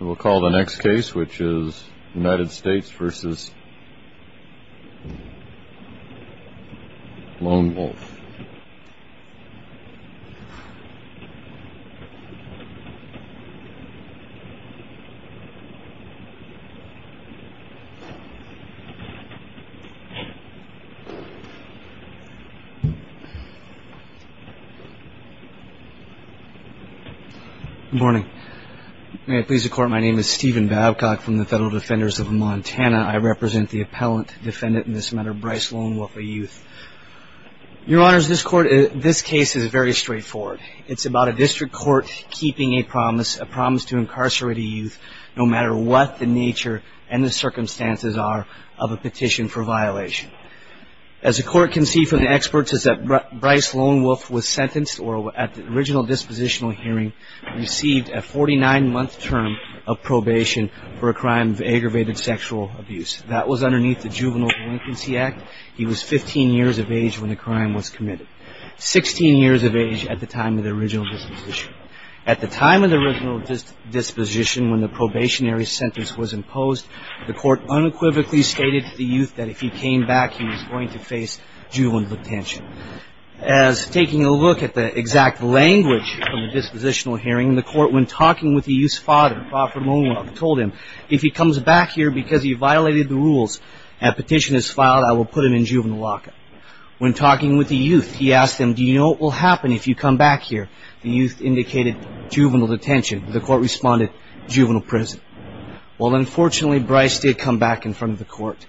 We'll call the next case, which is United States v. Lone Wolf. Good morning. May it please the Court, my name is Stephen Babcock from the Federal Defenders of Montana. I represent the appellant defendant in this matter, Bryce Lone Wolf v. Youth. Your Honors, this case is very straightforward. It's about a district court keeping a promise, a promise to incarcerate a youth no matter what the nature and the circumstances are of a petition for violation. As the Court can see from the experts is that Bryce Lone Wolf was sentenced or at the original dispositional hearing received a 49-month term of probation for a crime of aggravated sexual abuse. That was underneath the Juvenile Delinquency Act. He was 15 years of age when the crime was committed. 16 years of age at the time of the original disposition. At the time of the original disposition when the probationary sentence was imposed, the Court unequivocally stated to the youth that if he came back he was going to face juvenile detention. As taking a look at the exact language of the dispositional hearing, the Court when talking with the youth's father, Professor Lone Wolf, told him if he comes back here because he violated the rules and a petition is filed, I will put him in juvenile lockup. When talking with the youth, he asked them, do you know what will happen if you come back here? The youth indicated juvenile detention. The Court responded, juvenile prison. Well, unfortunately Bryce did come back in front of the Court.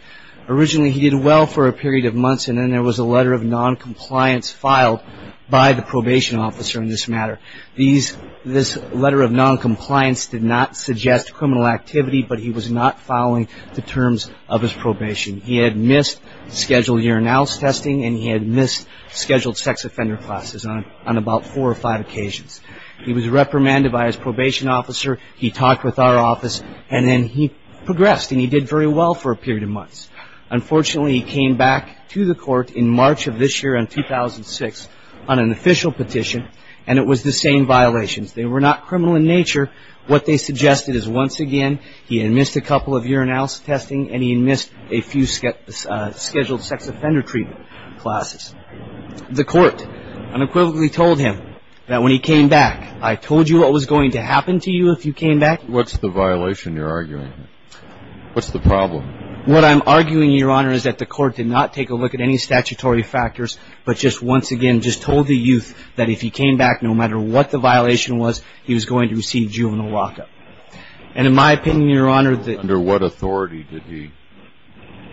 Originally he did well for a period of months and then there was a letter of noncompliance filed by the probation officer in this matter. This letter of noncompliance did not suggest criminal activity but he was not following the terms of his probation. He had missed scheduled urinalysis testing and he had missed scheduled sex offender classes on about four or five occasions. He was reprimanded by his probation officer. He talked with our office and then he progressed and he did very well for a period of months. Unfortunately he came back to the Court in March of this year in 2006 on an official petition and it was the same violations. They were not criminal in nature. What they suggested is once again he had missed a couple of urinalysis testing and he had missed a few scheduled sex offender treatment classes. The Court unequivocally told him that when he came back, I told you what was going to happen to you if you came back. What's the violation you're arguing? What's the problem? What I'm arguing, Your Honor, is that the Court did not take a look at any statutory factors but just once again just told the youth that if he came back, no matter what the violation was, he was going to receive juvenile lockup. And in my opinion, Your Honor, Under what authority did he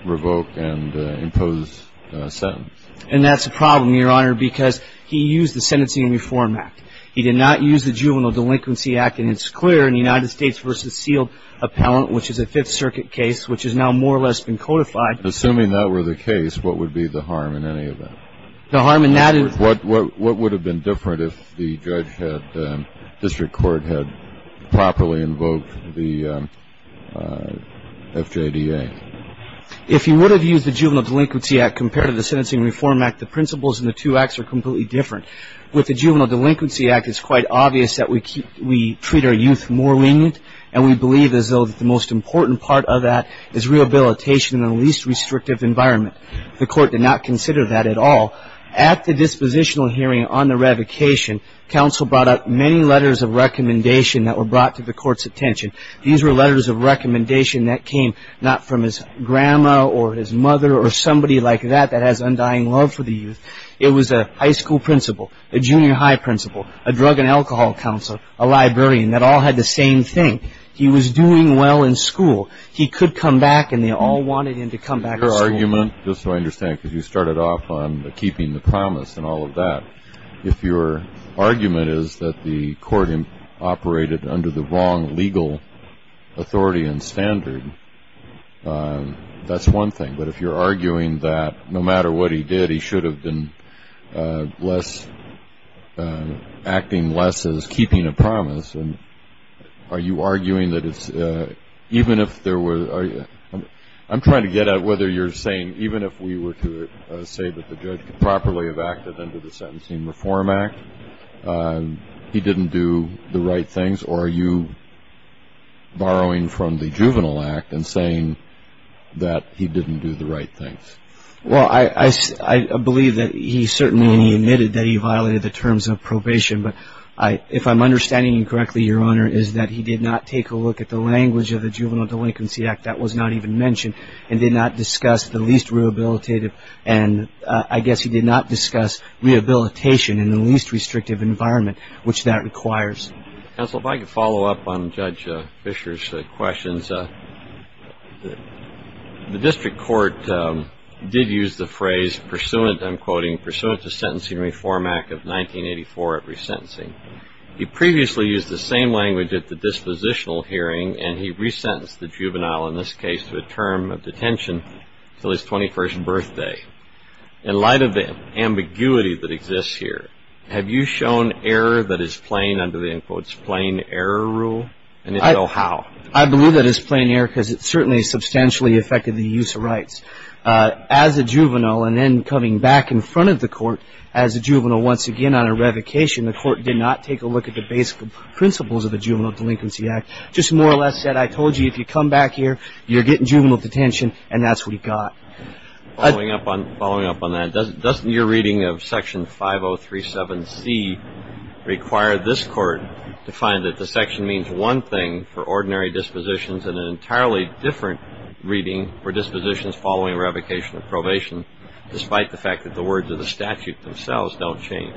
revoke and impose a sentence? And that's the problem, Your Honor, because he used the Sentencing and Reform Act. He did not use the Juvenile Delinquency Act and it's clear in the United States v. Sealed Appellant, which is a Fifth Circuit case, which has now more or less been codified. Assuming that were the case, what would be the harm in any event? The harm in that is what would have been different if the district court had properly invoked the FJDA? If he would have used the Juvenile Delinquency Act compared to the Sentencing and Reform Act, the principles in the two acts are completely different. With the Juvenile Delinquency Act, it's quite obvious that we treat our youth more lenient and we believe as though that the most important part of that is rehabilitation in the least restrictive environment. The on the revocation, counsel brought up many letters of recommendation that were brought to the court's attention. These were letters of recommendation that came not from his grandma or his mother or somebody like that that has undying love for the youth. It was a high school principal, a junior high principal, a drug and alcohol counselor, a librarian that all had the same thing. He was doing well in school. He could come back and they all wanted him to come back to school. Your argument, just so I understand, because you started off on keeping the promise and all of that, if your argument is that the court operated under the wrong legal authority and standard, that's one thing. But if you're arguing that no matter what he did, he should have been acting less as keeping a promise, are you arguing that it's even if there were I'm trying to get at whether you're saying even if we were to say that the judge could properly have acted under the Sentencing Reform Act, he didn't do the right things, or are you borrowing from the Juvenile Act and saying that he didn't do the right things? Well, I believe that he certainly admitted that he violated the terms of probation, but if I'm understanding you correctly, Your Honor, is that he did not take a look at the language of the Juvenile Delinquency Act, that was not even mentioned, and did not discuss the least rehabilitative and I guess he did not discuss rehabilitation in the least restrictive environment which that requires. Counsel, if I could follow up on Judge Fisher's questions. The district court did use the phrase pursuant, I'm quoting, pursuant to Sentencing Reform Act of 1984 of resentencing. He previously used the same language at the dispositional hearing and he resentenced the juvenile in this case to a term of detention until his 21st birthday. In light of the ambiguity that exists here, have you shown error that is plain under the end quote plain error rule and if so, how? I believe that it's plain error because it certainly substantially affected the use of rights. As a juvenile and then coming back in front of the court as a juvenile once again on a revocation, the court did not take a look at the basic principles of the Juvenile Delinquency Act, just more or less said I told you if you come back here, you're getting juvenile detention and that's what he got. Following up on that, doesn't your reading of Section 5037C require this court to find that the section means one thing for ordinary dispositions and an entirely different reading for dispositions following revocation of probation despite the fact that the words of the statute themselves don't change?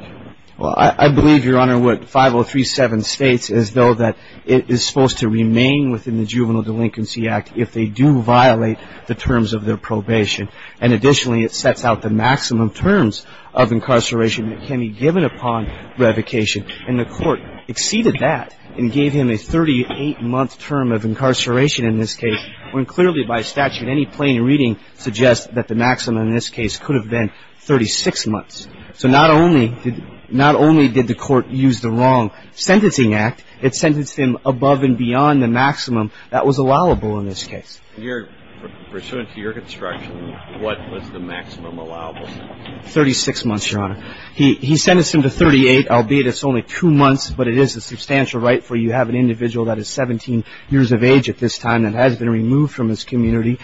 Well, I believe, Your Honor, what 5037 states is though that it is supposed to remain within the Juvenile Delinquency Act if they do violate the terms of their probation. And additionally, it sets out the maximum terms of incarceration that can be given upon revocation. And the court exceeded that and gave him a 38-month term of incarceration in this case when clearly by statute any plain reading suggests that the maximum in this case could have been 36 months. So not only did the court use the wrong sentencing act, it sentenced him above and beyond the maximum that was allowable in this case. Pursuant to your construction, what was the maximum allowable? Thirty-six months, Your Honor. He sentenced him to 38, albeit it's only two months, but it is a substantial right for you to have an individual that is 17 years of age at this time and has been removed from his community.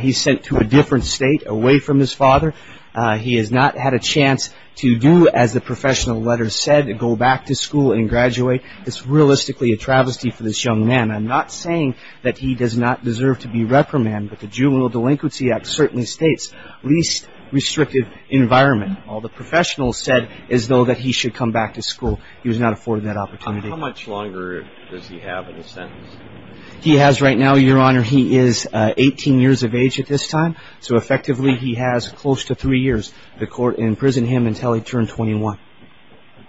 He's sent to a different state, away from his father. He has not had a chance to do, as the professional letters said, go back to school and graduate. It's realistically a travesty for this young man. I'm not saying that he does not deserve to be reprimanded, but the Juvenile Delinquency Act certainly states least restrictive environment. All the professionals said is though that he should come back to school. He was not afforded that opportunity. How much longer does he have in his sentence? He has right now, Your Honor, he is 18 years of age at this time, so effectively he has close to three years. The court imprisoned him until he turned 21.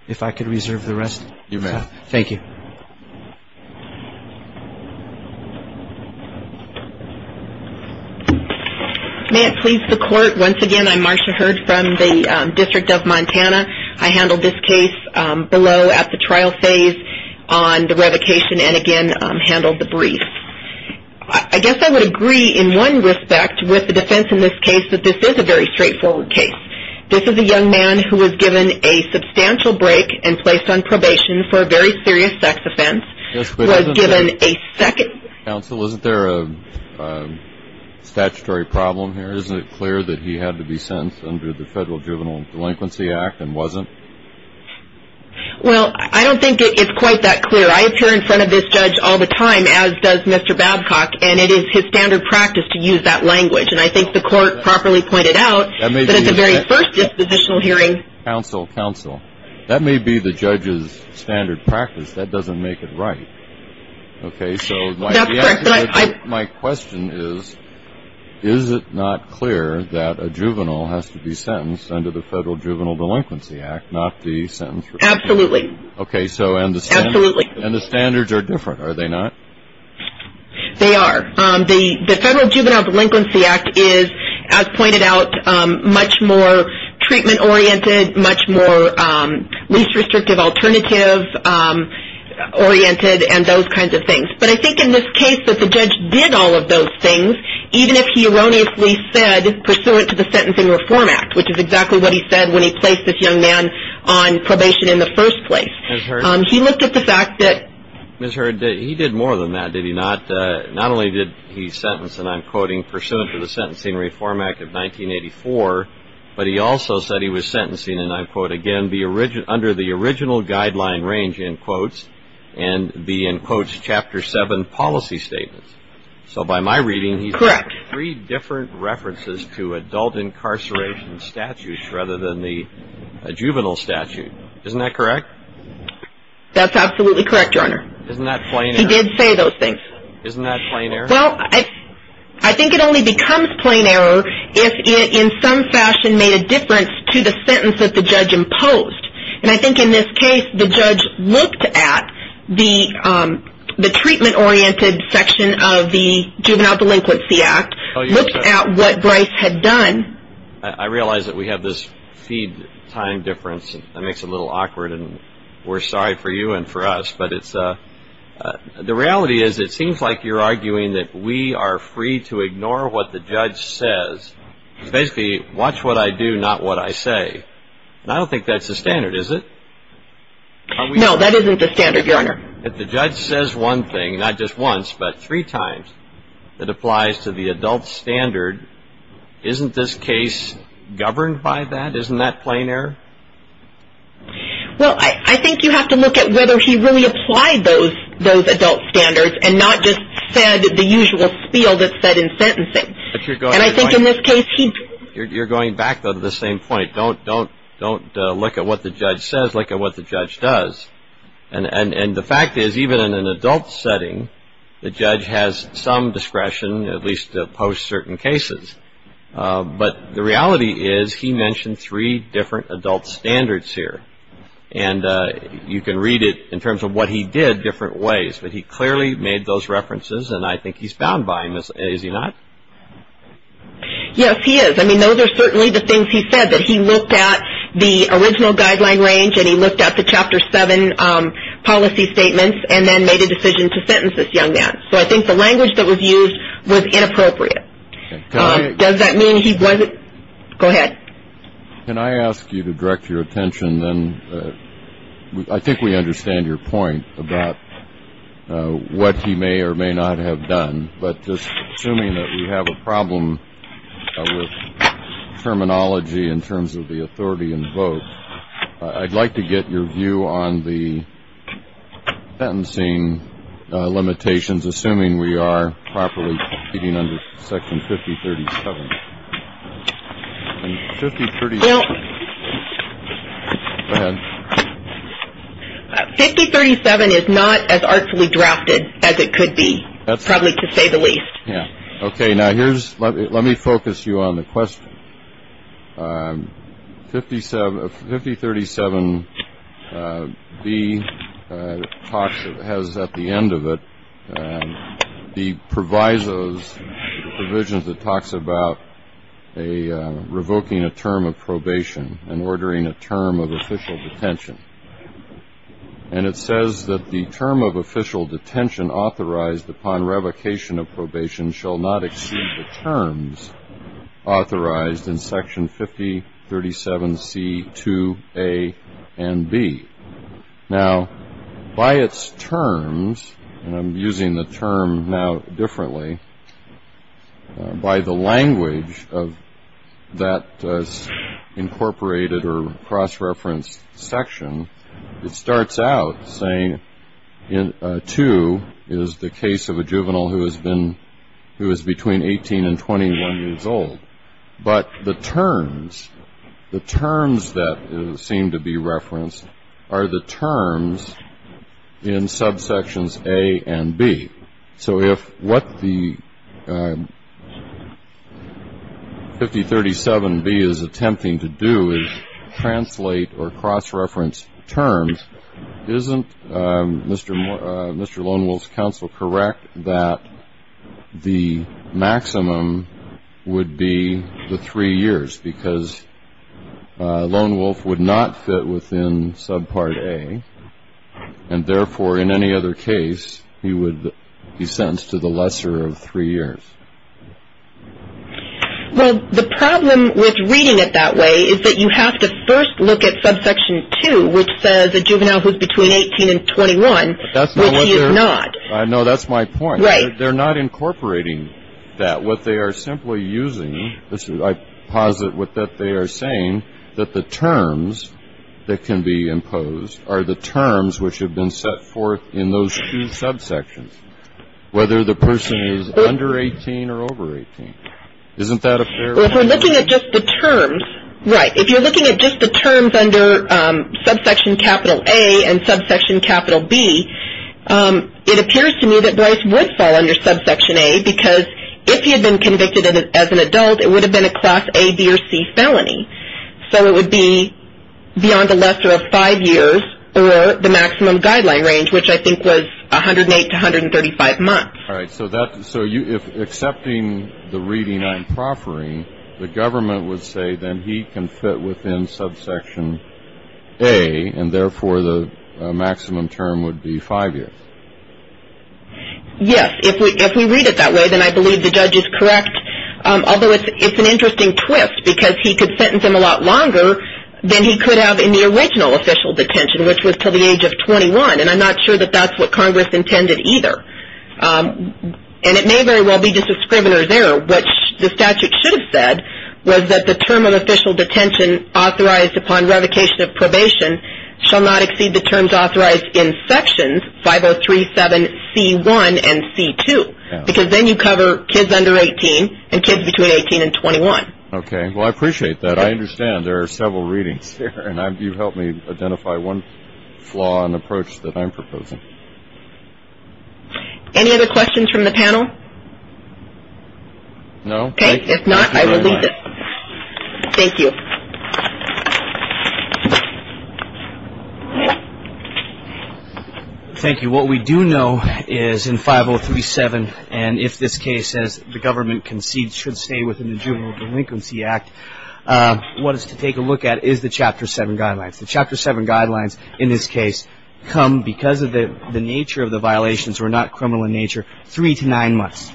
If I could reserve the rest. You may. Thank you. May it please the Court, once again, I'm Marcia Hurd from the District of Montana. I handled this case below at the trial phase on the revocation and, again, handled the brief. I guess I would agree, in one respect, with the defense in this case that this is a very straightforward case. This is a young man who was given a substantial break and placed on probation for a very serious sex offense, was given a second Counsel, isn't there a statutory problem here? Isn't it clear that he had to be sentenced under the Federal Juvenile Delinquency Act and wasn't? Well, I don't think it's quite that clear. I appear in front of this judge all the time, as does Mr. Babcock, and it is his standard practice to use that language. And I think the court properly pointed out that at the very first dispositional hearing Counsel, counsel. That may be the judge's standard practice. That doesn't make it right. Okay, so That's correct. My question is, is it not clear that a juvenile has to be sentenced under the Federal Juvenile Delinquency Act, not the sentence for Absolutely. Okay, so Absolutely. And the standards are different, are they not? They are. The Federal Juvenile Delinquency Act is, as pointed out, much more treatment oriented, much more least restrictive alternative oriented, and those kinds of things. But I think in this case that the judge did all of those things, even if he erroneously said pursuant to the Sentencing Reform Act, which is exactly what he said when he placed this young man on probation in the first place. Ms. Hurd He looked at the fact that Ms. Hurd, he did more than that, did he not? Not only did he sentence, and I'm quoting, pursuant to the Sentencing Reform Act of 1984, but he also said he was sentencing, and I policy statements. So by my reading, he's Correct. Three different references to adult incarceration statutes, rather than the juvenile statute. Isn't that correct? That's absolutely correct, Your Honor. Isn't that plain error? He did say those things. Isn't that plain error? Well, I think it only becomes plain error if it, in some fashion, made a difference to the sentence that the judge imposed. And I think in this case, the judge looked at the treatment-oriented section of the Juvenile Delinquency Act, looked at what Bryce had done. I realize that we have this feed time difference, and that makes it a little awkward, and we're sorry for you and for us. But the reality is, it seems like you're arguing that we are free to ignore what the judge says. Basically, watch what I do, not what I say. And I don't think that's the standard, is it? No, that isn't the standard, Your Honor. If the judge says one thing, not just once, but three times, that applies to the adult standard, isn't this case governed by that? Isn't that plain error? Well, I think you have to look at whether he really applied those adult standards and not just said the usual spiel that's said in sentencing. And I think in this case, he You're going back, though, to the same point. Don't look at what the judge says. Look at what the judge does. And the fact is, even in an adult setting, the judge has some discretion, at least post-certain cases. But the reality is, he mentioned three different adult standards here. And you can read it, in terms of what he did, different ways. But he clearly made those references, and I think he's bound by them, is he not? Yes, he is. I mean, those are certainly the things he said, that he looked at the original guideline range, and he looked at the Chapter 7 policy statements, and then made a decision to sentence this young man. So I think the language that was used was inappropriate. Does that mean he wasn't? Go ahead. Can I ask you to direct your attention, then? I think we understand your point about what he may or may not have done. But just assuming that we have a problem with terminology, in terms of the authority and vote, I'd like to get your view on the sentencing limitations, assuming we are properly competing under Section 5037. And 5037 is not as artfully drafted as it could be, probably to say the least. Okay. Now, let me focus you on the question. 5037B has at the end of it, the provisos, the provision that talks about revoking a term of probation and ordering a term of official detention. And it says that the term of official detention authorized upon revocation of probation shall not exceed the terms authorized in Section 5037C, 2A, and B. Now, by its terms, and I'm using the term now differently, by the language of that incorporated or cross-referenced section, it starts out saying 2 is the case of a juvenile who is between 18 and 21 years old. But the terms, the terms that seem to be referenced are the terms in subsections A and B. So if what the 5037B is attempting to do is translate or correct that the maximum would be the three years, because Lone Wolf would not fit within subpart A. And therefore, in any other case, he would be sentenced to the lesser of three years. Well, the problem with reading it that way is that you have to first look at subsection 2, which says a juvenile who is between 18 and 21, which he is not. No, that's my point. Right. They're not incorporating that. What they are simply using, I posit what they are saying, that the terms that can be imposed are the terms which have been set forth in those two subsections, whether the person is under 18 or over 18. Isn't that a fair assumption? Well, if we're looking at just the terms, right, if you're looking at just the terms under subsection capital A and subsection capital B, it appears to me that Bryce would fall under subsection A, because if he had been convicted as an adult, it would have been a class A, B, or C felony. So it would be beyond the lesser of five years or the maximum guideline range, which I think was 108 to 135 months. All right. So if accepting the reading I'm proffering, the government would say then he can fit within subsection A, and therefore the maximum term would be five years. Yes. If we read it that way, then I believe the judge is correct, although it's an interesting twist, because he could sentence him a lot longer than he could have in the original official detention, which was to the age of 21, and I'm not sure that that's what Congress intended either. And it may very well be just a scrivener's error, which the statute should have said was that the term of official detention authorized upon revocation of probation shall not exceed the terms authorized in sections 5037C1 and C2, because then you cover kids under 18 and kids between 18 and 21. Okay. Well, I appreciate that. I understand there are several readings here, and you helped me identify one flaw in the approach that I'm proposing. Any other questions from the panel? No. Okay. If not, I will leave it. Thank you. Thank you. What we do know is in 5037, and if this case, as the government concedes, should stay within the Juvenile Delinquency Act, what is to take a look at is the Chapter 7 guidelines. The Chapter 7 guidelines in this case come because of the nature of the violations were not criminal in nature, three to nine months,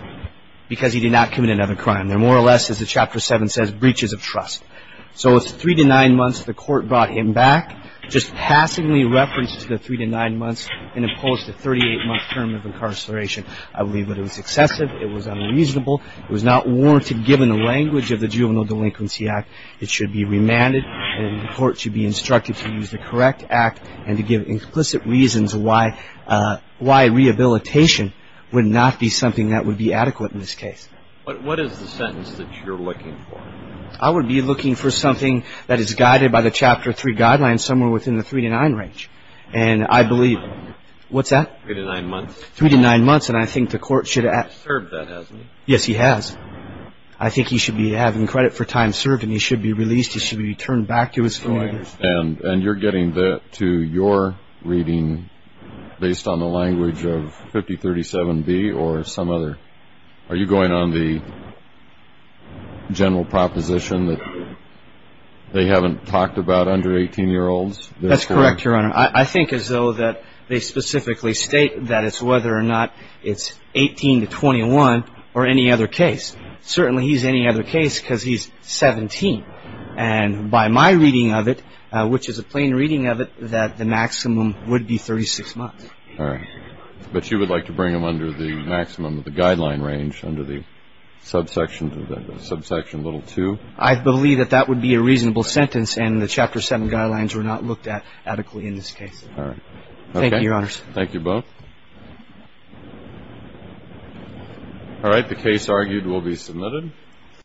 because he did not commit another crime. They're more or less, as the Chapter 7 says, breaches of trust. So it's three to nine months the court brought him back, just passingly referenced the three to nine months and imposed a 38-month term of incarceration. I believe that it was excessive. It was unreasonable. It was not warranted given the language of the Juvenile Delinquency Act. It should be remanded, and the court should be instructed to use the correct act and to give implicit reasons why rehabilitation would not be something that would be adequate in this case. But what is the sentence that you're looking for? I would be looking for something that is guided by the Chapter 3 guidelines, somewhere within the three to nine range, and I believe, what's that? Three to nine months. Three to nine months, and I think the court should act. He's served that, hasn't he? Yes, he has. I think he should be having credit for time served, and he should be released. He should be returned back to his family. I understand, and you're getting that to your reading based on the language of 5037B or some other. Are you going on the general proposition that they haven't talked about under 18-year-olds? That's correct, Your Honor. I think as though that they specifically state that it's whether or not it's 18 to 21 or any other case. Certainly he's any other case because he's 17, and by my reading of it, which is a plain reading of it, that the maximum would be 36 months. All right. But you would like to bring him under the maximum of the guideline range, under the subsection little 2? I believe that that would be a reasonable sentence, and the Chapter 7 guidelines were not looked at adequately in this case. All right. Thank you, Your Honors. All right, the case argued will be submitted.